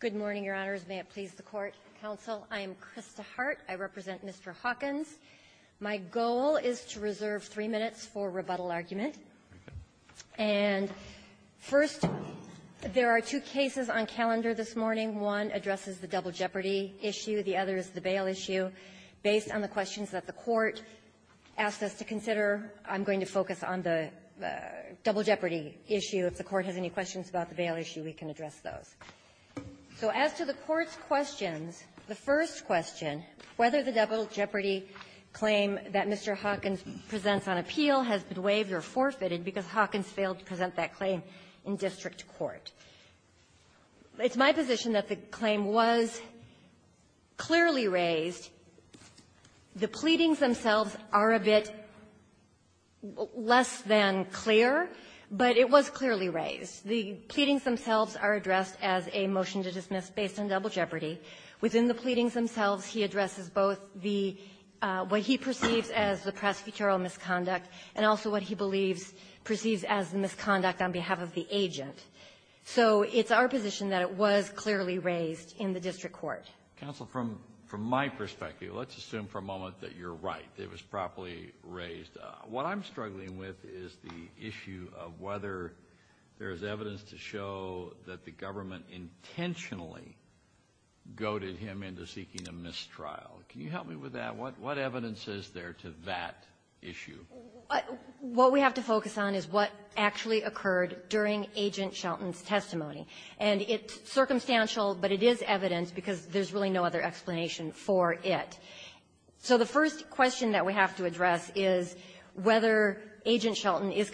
Good morning, Your Honors. May it please the Court, Counsel. I am Krista Hart. I represent Mr. Hawkins. My goal is to reserve three minutes for rebuttal argument. And first, there are two cases on calendar this morning. One addresses the double jeopardy issue. The other is the bail issue. Based on the questions that the Court asked us to consider, I'm going to focus on the those. So as to the Court's questions, the first question, whether the double jeopardy claim that Mr. Hawkins presents on appeal has been waived or forfeited because Hawkins failed to present that claim in district court. It's my position that the claim was clearly raised. The pleadings themselves are a bit less than clear, but it was clearly raised. The pleadings themselves are addressed in the district court. It was addressed as a motion to dismiss based on double jeopardy. Within the pleadings themselves, he addresses both the what he perceives as the prosecutorial misconduct and also what he believes, perceives as the misconduct on behalf of the agent. So it's our position that it was clearly raised in the district court. Kennedy. Counsel, from my perspective, let's assume for a moment that you're right. It was properly raised. What I'm struggling with is the issue of whether there is evidence to show that the government intentionally goaded him into seeking a mistrial. Can you help me with that? What evidence is there to that issue? What we have to focus on is what actually occurred during Agent Shelton's testimony. And it's circumstantial, but it is evidence because there's really no other explanation for it. So the first question that we have to address is whether Agent Shelton is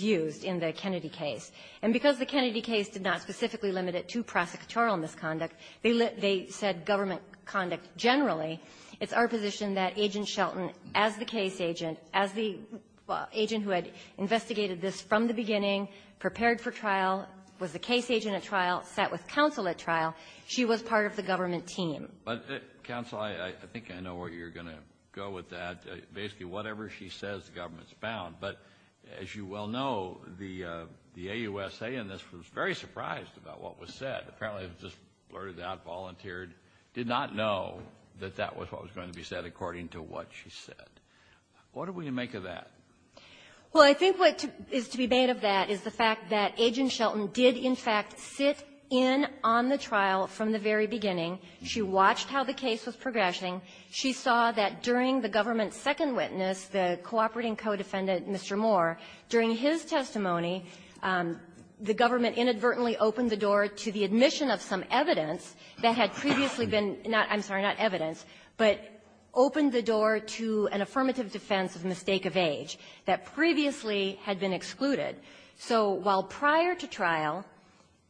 used in the Kennedy case. And because the Kennedy case did not specifically limit it to prosecutorial misconduct, they said government conduct generally. It's our position that Agent Shelton, as the case agent, as the agent who had investigated this from the beginning, prepared for trial, was the case agent at trial, sat with counsel at trial. She was part of the government team. But, counsel, I think I know where you're going to go with that. Basically, whatever she says, the government's bound. But as you well know, the AUSA in this was very surprised about what was said. Apparently, it was just blurted out, volunteered, did not know that that was what was going to be said according to what she said. What do we make of that? Well, I think what is to be made of that is the fact that Agent Shelton did, in fact, sit in on the trial from the very beginning. She watched how the case was progressing. She saw that during the government's second witness, the cooperating co-defendant, Mr. Moore, during his testimony, the government inadvertently opened the door to the admission of some evidence that had previously been not – I'm sorry, not evidence, but opened the door to an affirmative defense of mistake of age that previously had been excluded. So while prior to trial,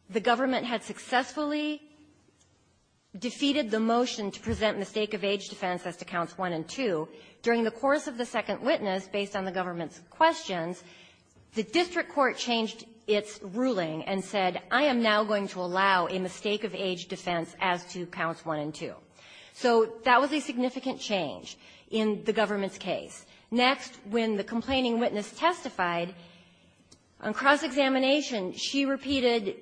the government had successfully defeated the motion to present mistake-of-age defense as to counts 1 and 2, during the course of the second witness, based on the government's questions, the district court changed its ruling and said, I am now going to allow a mistake-of-age defense as to counts 1 and 2. So that was a significant change in the government's case. Next, when the complaining witness testified, on cross-examination, that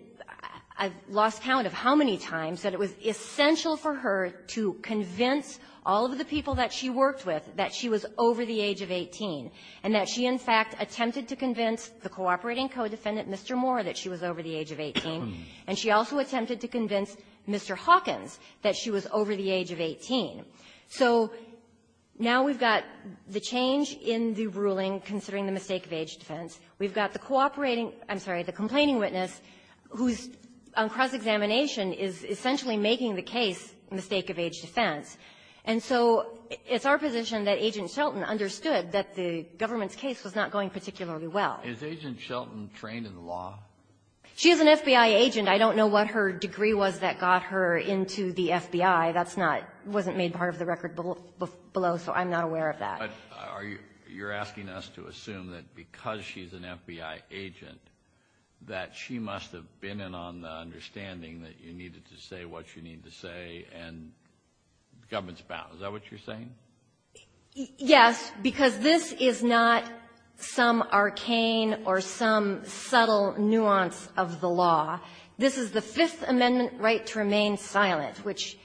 it was essential for her to convince all of the people that she worked with that she was over the age of 18, and that she, in fact, attempted to convince the cooperating co-defendant, Mr. Moore, that she was over the age of 18, and she also attempted to convince Mr. Hawkins that she was over the age of 18. So now we've got the change in the ruling considering the mistake-of-age defense. We've got the essentially making the case mistake-of-age defense. And so it's our position that Agent Shelton understood that the government's case was not going particularly well. Kennedy. Is Agent Shelton trained in law? Anderson. She is an FBI agent. I don't know what her degree was that got her into the FBI. That's not — wasn't made part of the record below, so I'm not aware of that. Kennedy. Are you — you're asking us to assume that because she's an FBI agent, that she must have been in on the understanding that you needed to say what you need to say, and the government's about. Is that what you're saying? Anderson. Yes, because this is not some arcane or some subtle nuance of the law. This is the Fifth Amendment right to remain silent, which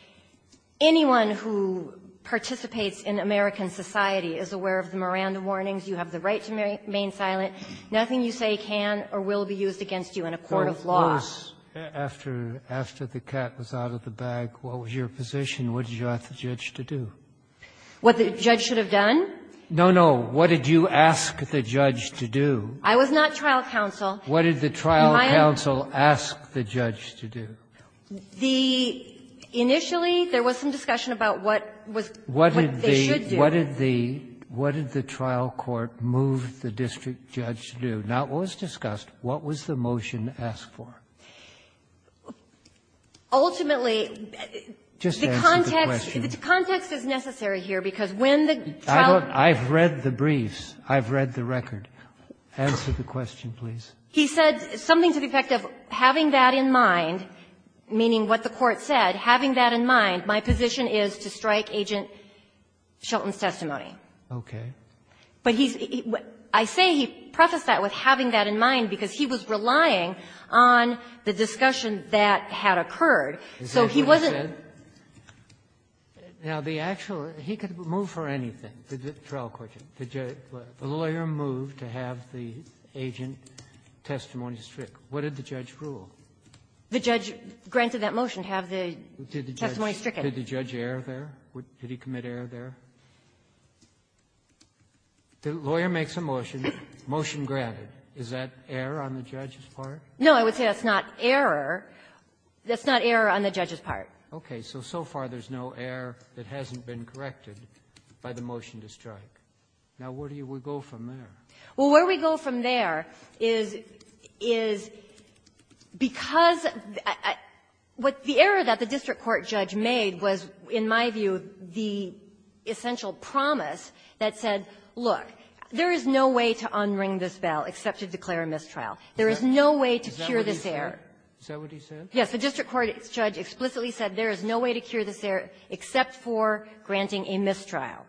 anyone who participates in American society is aware of the Miranda warnings. You have the right to remain silent. Nothing you say can or will be used against you in a court of law. Kennedy. So what was — after the cat was out of the bag, what was your position? What did you ask the judge to do? Anderson. What the judge should have done? Kennedy. No, no. What did you ask the judge to do? Anderson. I was not trial counsel. Kennedy. What did the trial counsel ask the judge to do? Anderson. The — initially, there was some discussion about what was — what they should do. Kennedy. What did the — what did the trial court move the district judge to do? Now, it was discussed. What was the motion asked for? Anderson. Ultimately, the context — Kennedy. Just answer the question. Anderson. The context is necessary here, because when the trial — Kennedy. I've read the briefs. I've read the record. Answer the question, please. Anderson. He said something to the effect of having that in mind, meaning what the testimony. Kennedy. Okay. Anderson. But he's — I say he prefaced that with having that in mind because he was relying on the discussion that had occurred, so he wasn't — Kennedy. Is that what he said? Now, the actual — he could move for anything, the trial court. The judge — the lawyer moved to have the agent testimony stricken. What did the judge rule? Anderson. The judge granted that motion to have the testimony stricken. Kennedy. Did the judge err there? Did he commit error there? Anderson. The lawyer makes a motion, motion granted. Is that error on the judge's part? Kennedy. No, I would say that's not error. That's not error on the judge's part. Anderson. Okay. So, so far, there's no error that hasn't been corrected by the motion to strike. Now, where do you go from there? Kennedy. Well, where we go from there is — is because what the error that the district court judge made was, in my view, the essential promise that said, look, there is no way to unring this bell except to declare a mistrial. There is no way to cure this error. Yes. The district court judge explicitly said there is no way to cure this error except for granting a mistrial.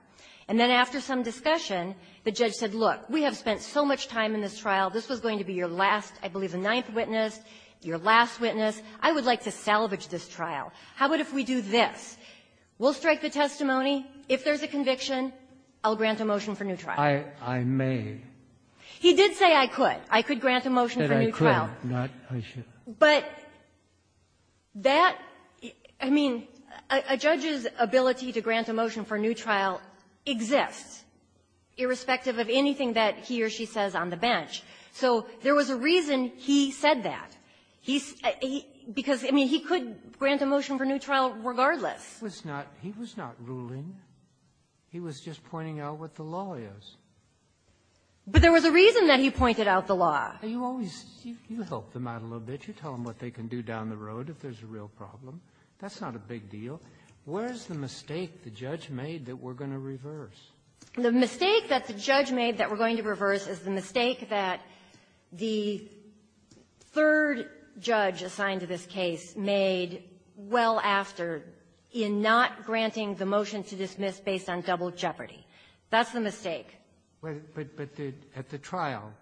And then after some discussion, the judge said, look, we have spent so much time in this trial. This was going to be your last, I believe, the ninth witness, your last witness. I would like to salvage this trial. How about if we do this? We'll strike the testimony. If there's a conviction, I'll grant a motion for new trial. I — I may. He did say I could. I could grant a motion for new trial. But I could, not I should. But that — I mean, a judge's ability to grant a motion for new trial exists, irrespective of anything that he or she says on the bench. So there was a reason he said that. He — because, I mean, he could grant a motion for new trial regardless. He was not — he was not ruling. He was just pointing out what the law is. But there was a reason that he pointed out the law. You always — you help them out a little bit. You tell them what they can do down the road if there's a real problem. That's not a big deal. Where's the mistake the judge made that we're going to reverse? The mistake that the judge made that we're going to reverse is the mistake that the third judge assigned to this case made well after in not granting the motion to dismiss based on double jeopardy. That's the mistake. But the — at the trial,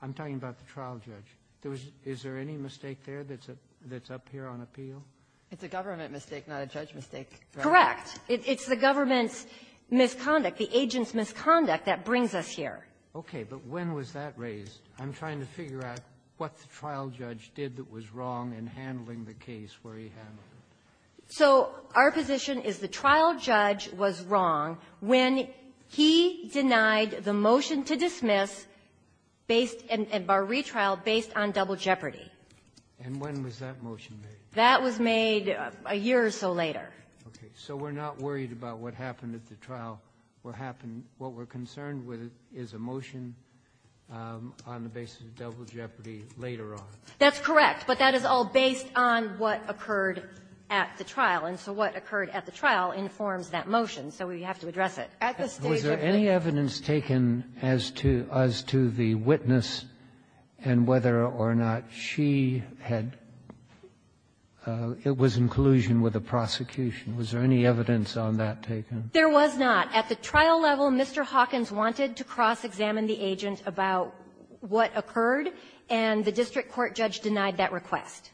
I'm talking about the trial judge. There was — is there any mistake there that's up here on appeal? It's a government mistake, not a judge mistake. Correct. It's the government's misconduct, the agent's misconduct that brings us here. Okay. But when was that raised? I'm trying to figure out what the trial judge did that was wrong in handling the case where he had it. So our position is the trial judge was wrong when he denied the motion to dismiss based — by retrial based on double jeopardy. And when was that motion made? That was made a year or so later. Okay. So we're not worried about what happened at the trial. What happened — what we're concerned with is a motion on the basis of double jeopardy later on. That's correct. But that is all based on what occurred at the trial. And so what occurred at the trial informs that motion. So we have to address it. At the stage of the — Was there any evidence taken as to — as to the witness and whether or not she had it? It was in collusion with the prosecution. Was there any evidence on that taken? There was not. At the trial level, Mr. Hawkins wanted to cross-examine the agent about what occurred, and the district court judge denied that request.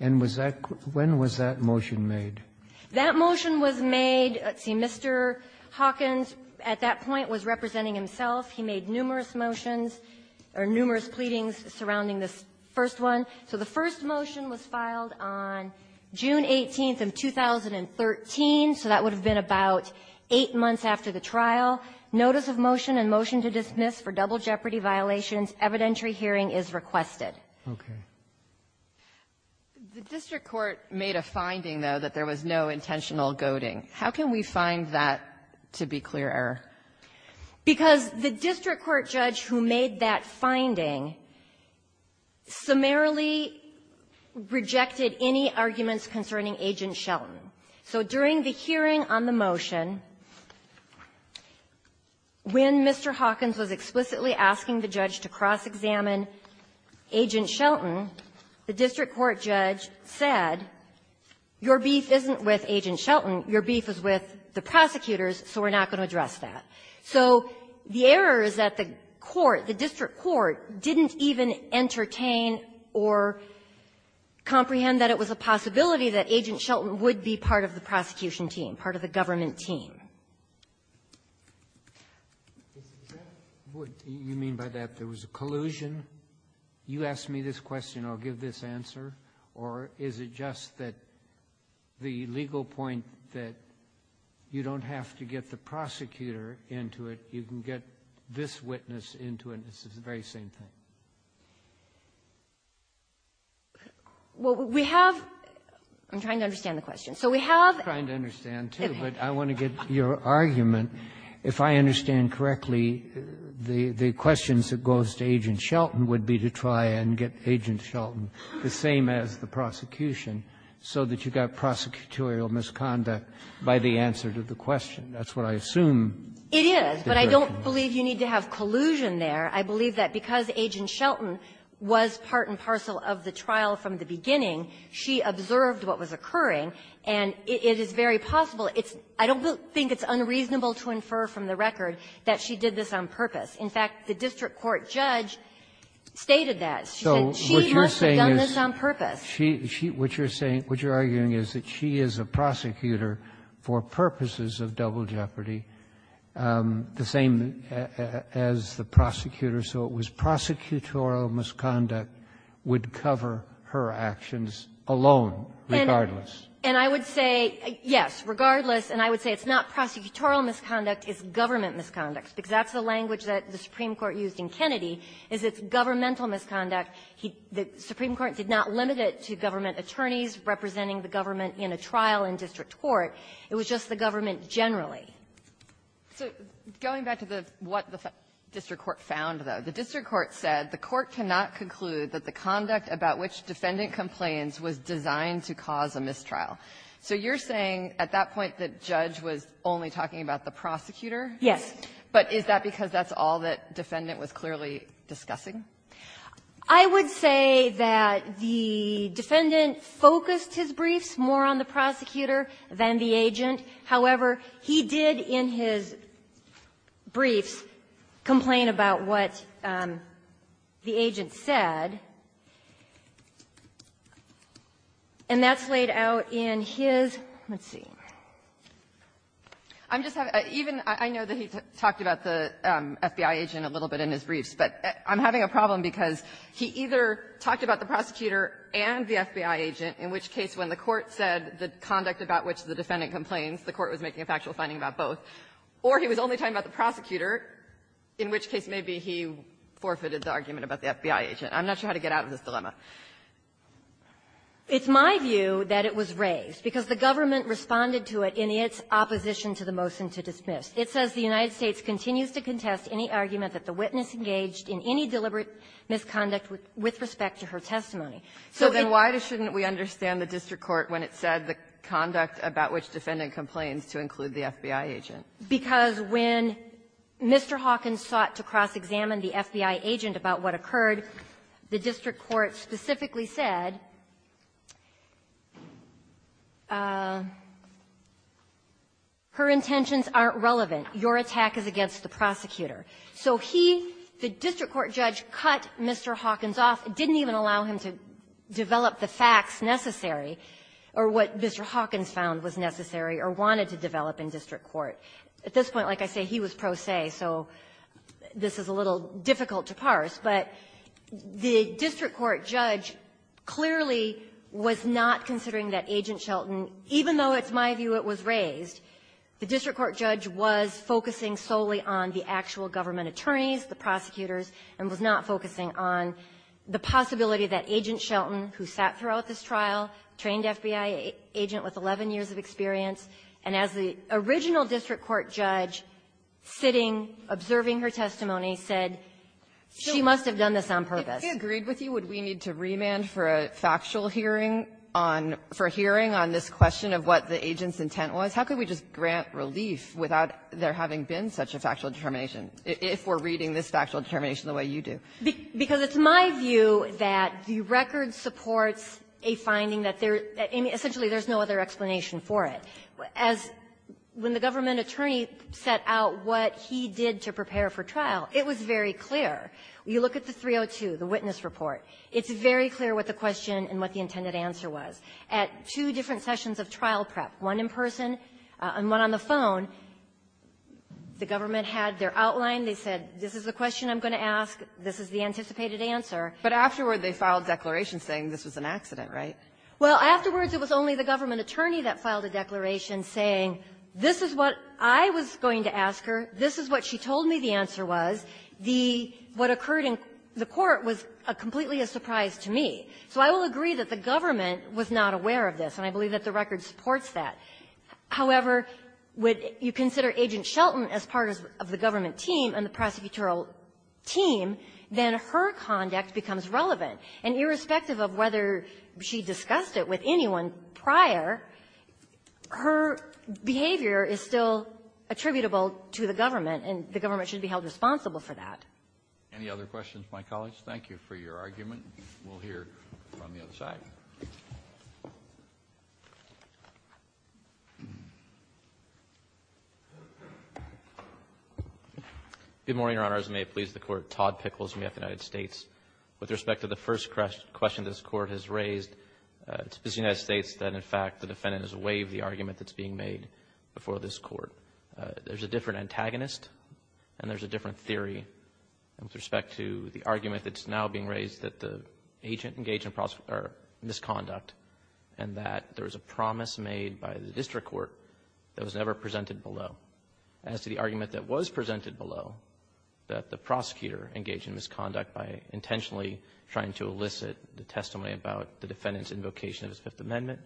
And was that — when was that motion made? That motion was made — see, Mr. Hawkins at that point was representing himself. He made numerous motions — or numerous pleadings surrounding this first one. So the first motion was filed on June 18th of 2013, so that would have been about eight months after the trial. Notice of motion and motion to dismiss for double jeopardy violations. Evidentiary hearing is requested. Okay. The district court made a finding, though, that there was no intentional goading. How can we find that to be clear error? Because the district court judge who made that finding summarily rejected any arguments concerning Agent Shelton. So during the hearing on the motion, when Mr. Hawkins was explicitly asking the judge to cross-examine Agent Shelton, the district court judge said, your beef isn't with So the error is that the court, the district court, didn't even entertain or comprehend that it was a possibility that Agent Shelton would be part of the prosecution team, part of the government team. Scalia. What do you mean by that? There was a collusion? You ask me this question, I'll give this answer? Or is it just that the legal point that you don't have to get the prosecutor into it, you can get this witness into it, and it's the very same thing? Well, we have to understand the question. So we have to understand, too, but I want to get your argument. If I understand correctly, the questions that goes to Agent Shelton would be to try and get Agent Shelton the same as the prosecution, so that you got prosecutorial misconduct by the answer to the question. That's what I assume. It is, but I don't believe you need to have collusion there. I believe that because Agent Shelton was part and parcel of the trial from the beginning, she observed what was occurring, and it is very possible. It's – I don't think it's unreasonable to infer from the record that she did this on purpose. In fact, the district court judge stated that. She said she must have done this on purpose. She – she – what you're saying – what you're arguing is that she is a prosecutor for purposes of double jeopardy, the same as the prosecutor, so it was prosecutorial misconduct would cover her actions alone, regardless. And I would say, yes, regardless, and I would say it's not prosecutorial misconduct, it's government misconduct, because that's the language that the Supreme Court used. It was not governmental misconduct. He – the Supreme Court did not limit it to government attorneys representing the government in a trial in district court. It was just the government generally. So going back to the – what the district court found, though, the district court said the court cannot conclude that the conduct about which defendant complains was designed to cause a mistrial. So you're saying at that point the judge was only talking about the prosecutor? Yes. But is that because that's all that defendant was clearly discussing? I would say that the defendant focused his briefs more on the prosecutor than the agent. However, he did in his briefs complain about what the agent said. And that's laid out in his – let's see. I'm just having – even – I know that he talked about the FBI agent a little bit in his briefs, but I'm having a problem because he either talked about the prosecutor and the FBI agent, in which case when the court said the conduct about which the defendant complains, the court was making a factual finding about both, or he was only talking about the prosecutor, in which case maybe he forfeited the argument about the FBI agent. I'm not sure how to get out of this dilemma. It's my view that it was raised because the government responded to it in its opposition to the motion to dismiss. It says the United States continues to contest any argument that the witness engaged in any deliberate misconduct with respect to her testimony. So it's – So then why shouldn't we understand the district court when it said the conduct about which defendant complains to include the FBI agent? Because when Mr. Hawkins sought to cross-examine the FBI agent about what occurred, the district court specifically said, her intentions aren't relevant. Your attack is against the prosecutor. So he, the district court judge, cut Mr. Hawkins off, didn't even allow him to develop the facts necessary or what Mr. Hawkins found was necessary or wanted to develop in district court. At this point, like I say, he was pro se, so this is a little difficult to parse. But the district court judge clearly was not considering that Agent Shelton, even though it's my view it was raised, the district court judge was focusing solely on the actual government attorneys, the prosecutors, and was not focusing on the possibility that Agent Shelton, who sat throughout this trial, trained FBI agent with 11 years of experience, and as the original district court judge sitting, observing her testimony, said, she must have done this on purpose. Kagan, if he agreed with you, would we need to remand for a factual hearing on this question of what the agent's intent was? How could we just grant relief without there having been such a factual determination, if we're reading this factual determination the way you do? Because it's my view that the record supports a finding that there's no other explanation for it. As when the government attorney set out what he did to prepare for trial, it was very clear. You look at the 302, the witness report. It's very clear what the question and what the intended answer was. At two different sessions of trial prep, one in person and one on the phone, the government had their outline. They said, this is the question I'm going to ask. This is the anticipated answer. But afterward, they filed declarations saying this was an accident, right? Well, afterwards, it was only the government attorney that filed a declaration saying, this is what I was going to ask her. This is what she told me the answer was. The what occurred in the court was a completely a surprise to me. So I will agree that the government was not aware of this, and I believe that the record supports that. However, when you consider Agent Shelton as part of the government team and the prosecutorial team, then her conduct becomes relevant. And irrespective of whether she discussed it with anyone prior, her behavior is still attributable to the government, and the government should be held responsible for that. Any other questions, my colleagues? Thank you for your argument. We'll hear from the other side. Good morning, Your Honors. May it please the Court. Todd Pickles with the United States. With respect to the first question this Court has raised, it's the United States that, in fact, the defendant has waived the argument that's being made before this Court. There's a different antagonist, and there's a different theory with respect to the argument that's now being raised that the agent engaged in misconduct, and that there was a promise made by the district court that was never presented below. As to the argument that was presented below, that the prosecutor engaged in misconduct by intentionally trying to elicit the testimony about the defendant's invocation of his Fifth Amendment,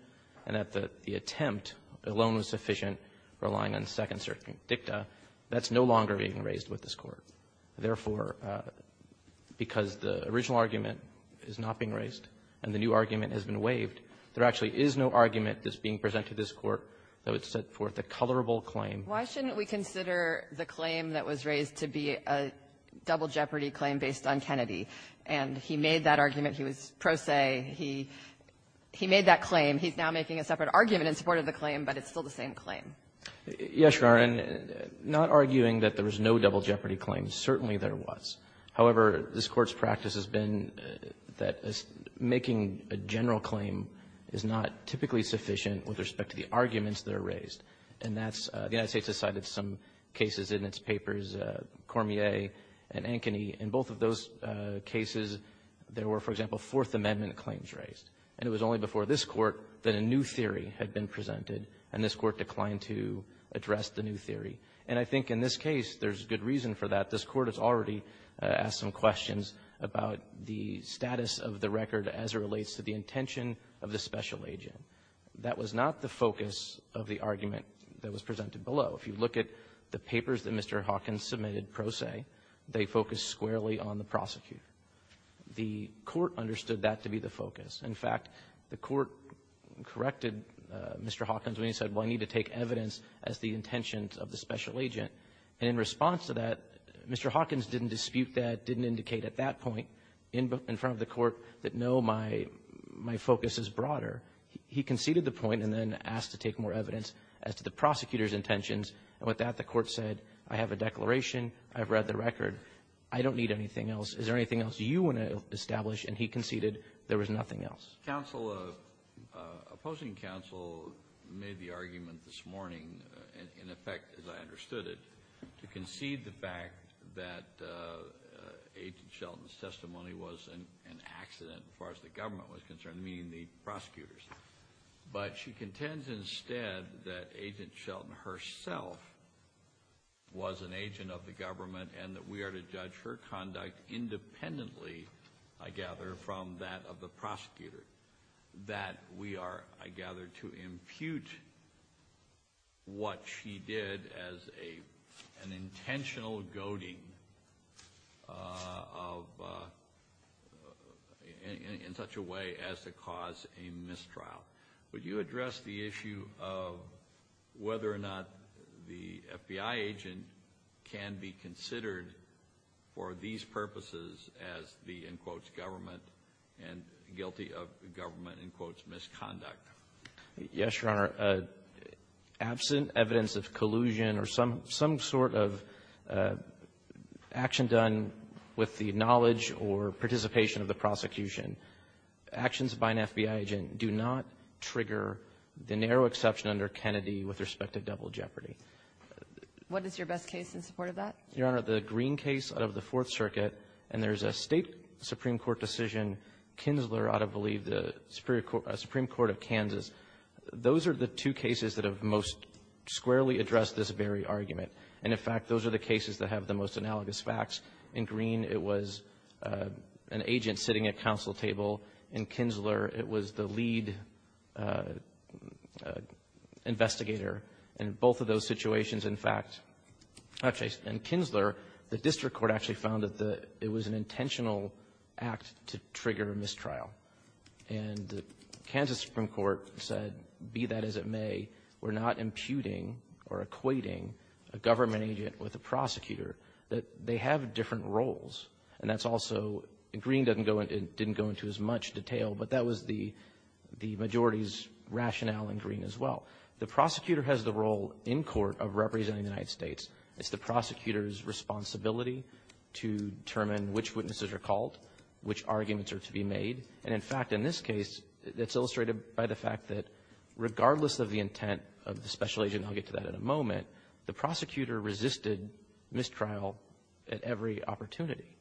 and that the attempt alone was sufficient relying on second-circuit dicta, that's no longer being raised with this Court. Therefore, because the original argument is not being raised and the new argument has been waived, there actually is no argument that's being presented to this Court that would set forth a colorable claim. Why shouldn't we consider the claim that was raised to be a double jeopardy claim based on Kennedy? And he made that argument. He was pro se. He made that claim. He's now making a separate argument in support of the claim, but it's still the same claim. Yes, Your Honor. And not arguing that there was no double jeopardy claim, certainly there was. However, this Court's practice has been that making a general claim is not typically sufficient with respect to the arguments that are raised. And that's the United States has cited some cases in its papers, Cormier and Ankeny. In both of those cases, there were, for example, Fourth Amendment claims raised. And it was only before this Court that a new theory had been presented, and this Court declined to address the new theory. And I think in this case, there's good reason for that. This Court has already asked some questions about the status of the record as it relates to the intention of the special agent. That was not the focus of the argument that was presented below. If you look at the papers that Mr. Hawkins submitted pro se, they focused squarely on the prosecutor. The Court understood that to be the focus. In fact, the Court corrected Mr. Hawkins when he said, well, I need to take evidence as the intentions of the special agent. And in response to that, Mr. Hawkins didn't dispute that, didn't indicate at that point. He conceded the point and then asked to take more evidence as to the prosecutor's intentions. And with that, the Court said, I have a declaration. I've read the record. I don't need anything else. Is there anything else you want to establish? And he conceded there was nothing else. Kennedy. Opposing counsel made the argument this morning, in effect, as I understood it, to concede the fact that Agent Shelton's testimony was an accident as far as the government was concerned, meaning the prosecutors. But she contends instead that Agent Shelton herself was an agent of the government and that we are to judge her conduct independently, I gather, from that of the prosecutor, that we are, I gather, to impute what she did as an intentional goading in such a way as to cause a mistrial. Would you address the issue of whether or not the FBI agent can be considered for these purposes as the, in quotes, government and guilty of government, in quotes, Yes, Your Honor. Absent evidence of collusion or some sort of action done with the knowledge or participation of the prosecution, actions by an FBI agent do not trigger the narrow exception under Kennedy with respect to double jeopardy. What is your best case in support of that? Your Honor, the Green case out of the Fourth Circuit, and there's a State Supreme Court decision, Kinsler, out of, I believe, the Supreme Court of Kansas. Those are the two cases that have most squarely addressed this very argument. And, in fact, those are the cases that have the most analogous facts. In Green, it was an agent sitting at counsel table. In Kinsler, it was the lead investigator. And both of those situations, in fact, actually, in Kinsler, the district court actually found that the, it was an intentional act to trigger a mistrial. And the Kansas Supreme Court said, be that as it may, we're not imputing or equating a government agent with a prosecutor, that they have different roles. And that's also, Green didn't go into as much detail, but that was the majority's rationale in Green as well. The prosecutor has the role in court of representing the United States. It's the prosecutor's responsibility to determine which witnesses are called, which arguments are to be made. And, in fact, in this case, it's illustrated by the fact that regardless of the intent of the special agent, and I'll get to that in a moment, the prosecutor resisted mistrial at every opportunity.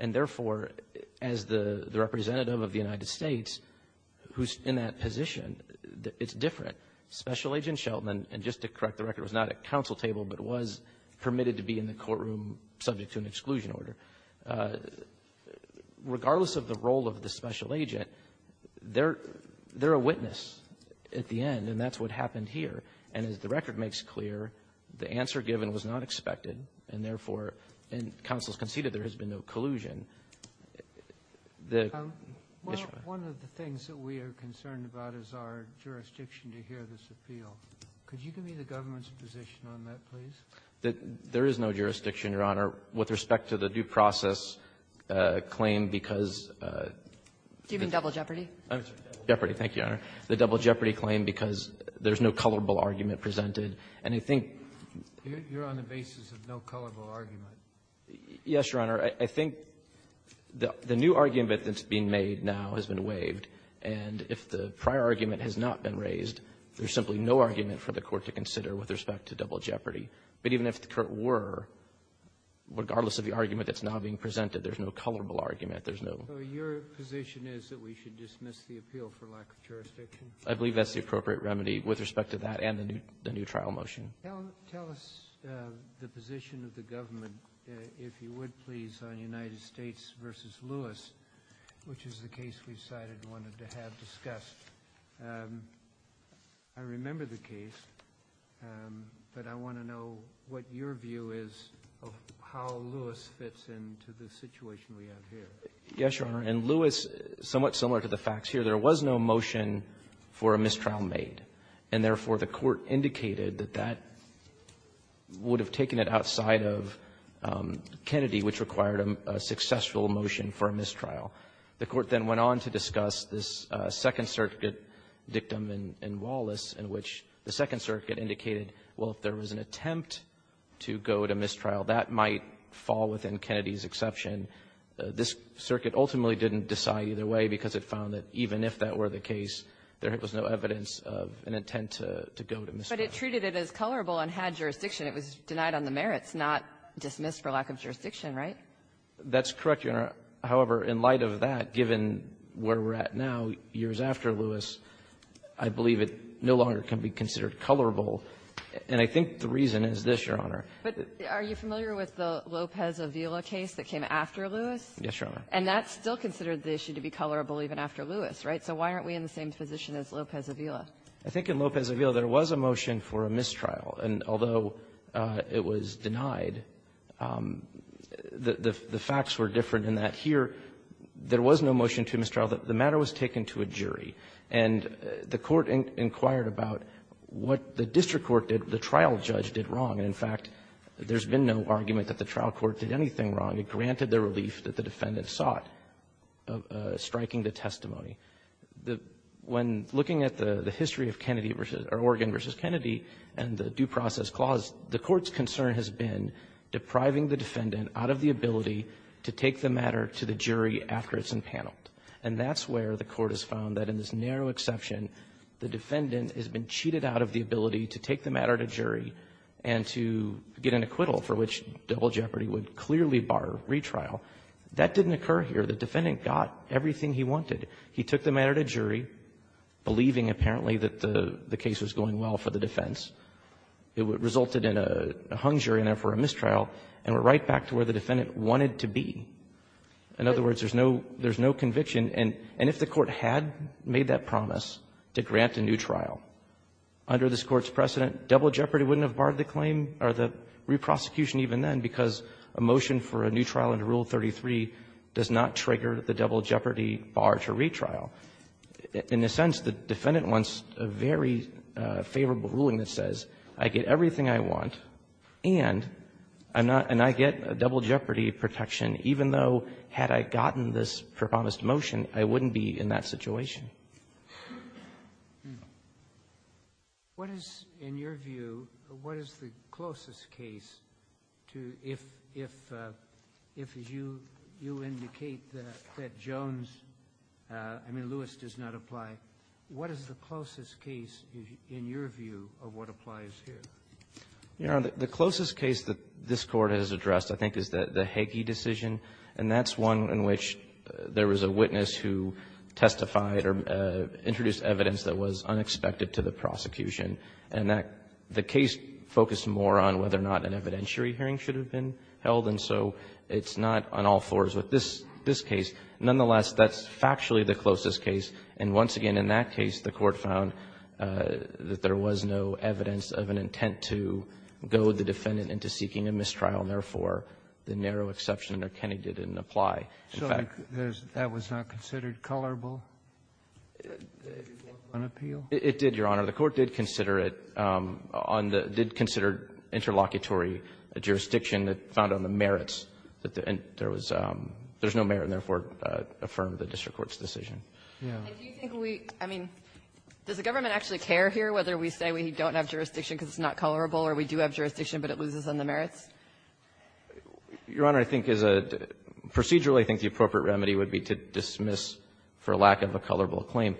And, therefore, as the representative of the United States who's in that position, it's different. Special Agent Shelton, and just to correct the record, was not at counsel table, but was permitted to be in the courtroom subject to an exclusion order. Regardless of the role of the special agent, they're a witness at the end, and that's what happened here. And as the record makes clear, the answer given was not expected, and, therefore, counsel has conceded there has been no collusion. The issue of the ---- Robertson, one of the things that we are concerned about is our jurisdiction to hear this appeal. Could you give me the government's position on that, please? There is no jurisdiction, Your Honor, with respect to the due process claim because of the ---- Do you mean double jeopardy? Jeopardy. Thank you, Your Honor. The double jeopardy claim because there's no colorable argument presented. And I think ---- You're on the basis of no colorable argument. Yes, Your Honor. I think the new argument that's being made now has been waived. And if the prior argument has not been raised, there's simply no argument for the But even if the current were, regardless of the argument that's now being presented, there's no colorable argument. There's no ---- So your position is that we should dismiss the appeal for lack of jurisdiction? I believe that's the appropriate remedy with respect to that and the new trial motion. Tell us the position of the government, if you would, please, on United States v. Lewis, which is the case we've cited and wanted to have discussed. I remember the case, but I want to know what your view is of how Lewis fits into the situation we have here. Yes, Your Honor. In Lewis, somewhat similar to the facts here, there was no motion for a mistrial made, and therefore, the Court indicated that that would have taken it outside of Kennedy, which required a successful motion for a mistrial. The Court then went on to discuss this Second Circuit dictum in Wallace, in which the Second Circuit indicated, well, if there was an attempt to go to mistrial, that might fall within Kennedy's exception. This Circuit ultimately didn't decide either way because it found that even if that were the case, there was no evidence of an intent to go to mistrial. But it treated it as colorable and had jurisdiction. It was denied on the merits, not dismissed for lack of jurisdiction, right? That's correct, Your Honor. However, in light of that, given where we're at now, years after Lewis, I believe it no longer can be considered colorable, and I think the reason is this, Your Honor. But are you familiar with the Lopez-Avila case that came after Lewis? Yes, Your Honor. And that's still considered the issue to be colorable even after Lewis, right? So why aren't we in the same position as Lopez-Avila? I think in Lopez-Avila, there was a motion for a mistrial. And although it was denied, the facts were different in that here, there was no motion to mistrial. The matter was taken to a jury, and the Court inquired about what the district court did, the trial judge did wrong. And, in fact, there's been no argument that the trial court did anything wrong. It granted the relief that the defendant sought, striking the testimony. When looking at the history of Kennedy versus or Oregon v. Kennedy and the due process clause, the Court's concern has been depriving the defendant out of the ability to take the matter to the jury after it's impaneled. And that's where the Court has found that in this narrow exception, the defendant has been cheated out of the ability to take the matter to jury and to get an acquittal for which double jeopardy would clearly bar retrial. That didn't occur here. The defendant got everything he wanted. He took the matter to jury, believing apparently that the case was going well for the defense. It resulted in a hung jury and, therefore, a mistrial, and we're right back to where the defendant wanted to be. In other words, there's no conviction. And if the Court had made that promise to grant a new trial under this Court's precedent, double jeopardy wouldn't have barred the claim or the reprosecution even then, because a motion for a new trial under Rule 33 does not trigger the double jeopardy of a retrial. In a sense, the defendant wants a very favorable ruling that says I get everything I want, and I'm not going to get a double jeopardy protection, even though had I gotten this promised motion, I wouldn't be in that situation. Kennedy. What is, in your view, what is the closest case to if, as you indicate, that Jones --"I mean, Lewis does not apply." What is the closest case, in your view, of what applies here? You know, the closest case that this Court has addressed, I think, is the Hege decision, and that's one in which there was a witness who testified or introduced evidence that was unexpected to the prosecution. And that the case focused more on whether or not an evidentiary hearing should have been held, and so it's not on all fours. But this case, nonetheless, that's factually the closest case. And once again, in that case, the Court found that there was no evidence of an intent to goad the defendant into seeking a mistrial, and therefore, the narrow exception under Kennedy didn't apply. Sotomayor, that was not considered colorable on appeal? It did, Your Honor. The Court did consider it on the --did consider interlocutory jurisdiction that found on the merits that there was no merit, and therefore, affirmed the district court's decision. And do you think we --I mean, does the government actually care here whether we say we don't have jurisdiction because it's not colorable or we do have jurisdiction, but it loses on the merits? Your Honor, I think as a --procedurally, I think the appropriate remedy would be to dismiss for lack of a colorable claim.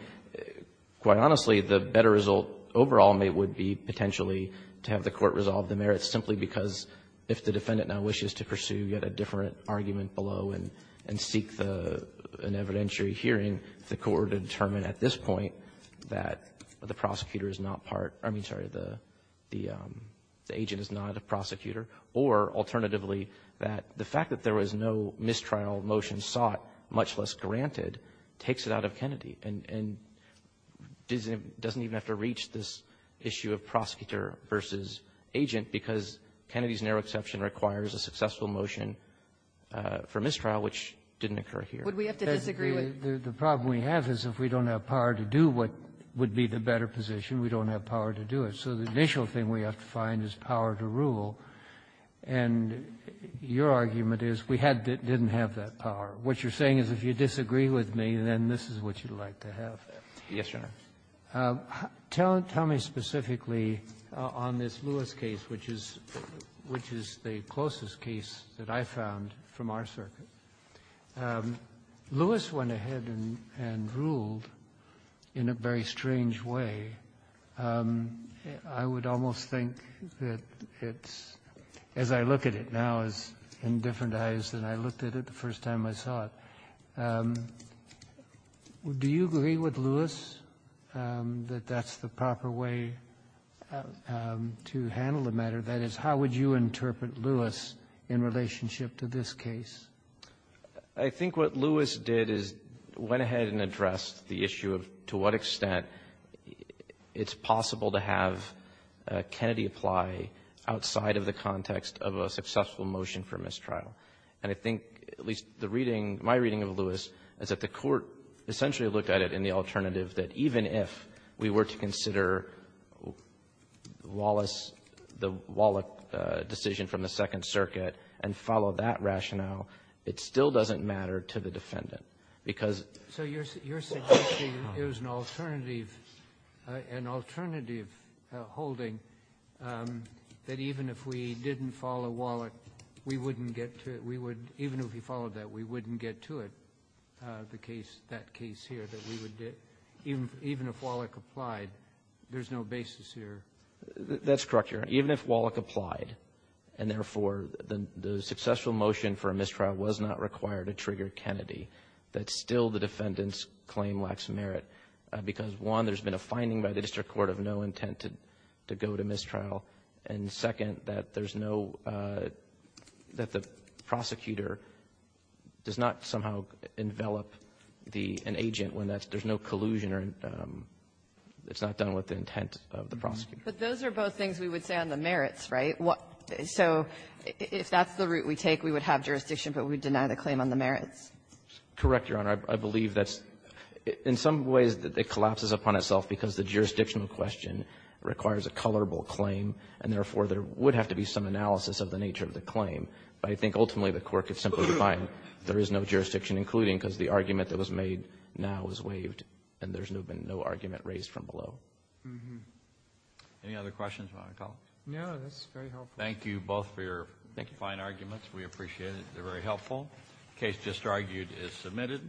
Quite honestly, the better result overall would be potentially to have the Court resolve the merits simply because if the defendant now wishes to pursue yet a different argument below and seek the --an evidentiary hearing, the Court would determine at this point that the prosecutor is not part of the --I mean, sorry, the agent is not a prosecutor, or alternatively, that the fact that there was no mistrial motion sought, much less granted, takes it out of Kennedy and doesn't even have to reach this issue of prosecutor versus agent because Kennedy's narrow exception requires a successful motion for mistrial, which didn't occur here. Would we have to disagree with --? The problem we have is if we don't have power to do what would be the better position, we don't have power to do it. So the initial thing we have to find is power to rule. And your argument is we had to --didn't have that power. What you're saying is if you disagree with me, then this is what you'd like to have. Yes, Your Honor. Tell me specifically on this Lewis case, which is the closest case that I found from our circuit. Lewis went ahead and ruled in a very strange way. I would almost think that it's, as I look at it now, is in different eyes than I looked at it the first time I saw it. Do you agree with Lewis that that's the proper way to handle the matter? That is, how would you interpret Lewis in relationship to this case? I think what Lewis did is went ahead and addressed the issue of to what extent it's possible to have Kennedy apply outside of the context of a successful motion for mistrial. And I think at least the reading, my reading of Lewis, is that the Court essentially looked at it in the alternative that even if we were to consider Wallace, the Wallach decision from the Second Circuit, and follow that rationale, it still doesn't matter to the defendant. Because you're suggesting it was an alternative holding that even if we didn't follow Wallach, we wouldn't get to it. We would, even if we followed that, we wouldn't get to it, the case, that case here, that we would, even if Wallach applied, there's no basis here. That's correct, Your Honor. Even if Wallach applied and, therefore, the successful motion for a mistrial was not required to trigger Kennedy, that still the defendant's claim lacks merit. Because, one, there's been a finding by the district court of no intent to go to mistrial. And, second, that there's no – that the prosecutor does not somehow envelop the – an agent when that's – there's no collusion or it's not done with the intent of the prosecutor. But those are both things we would say on the merits, right? So if that's the route we take, we would have jurisdiction, but we would deny the claim on the merits. Correct, Your Honor. I believe that's – in some ways, it collapses upon itself because the jurisdictional question requires a colorable claim, and, therefore, there would have to be some analysis of the nature of the claim. But I think, ultimately, the court could simply define there is no jurisdiction, including because the argument that was made now is waived, and there's no argument raised from below. Mm-hmm. Any other questions, my colleagues? No, that's very helpful. Thank you both for your fine arguments. We appreciate it. They're very helpful. The case just argued is submitted.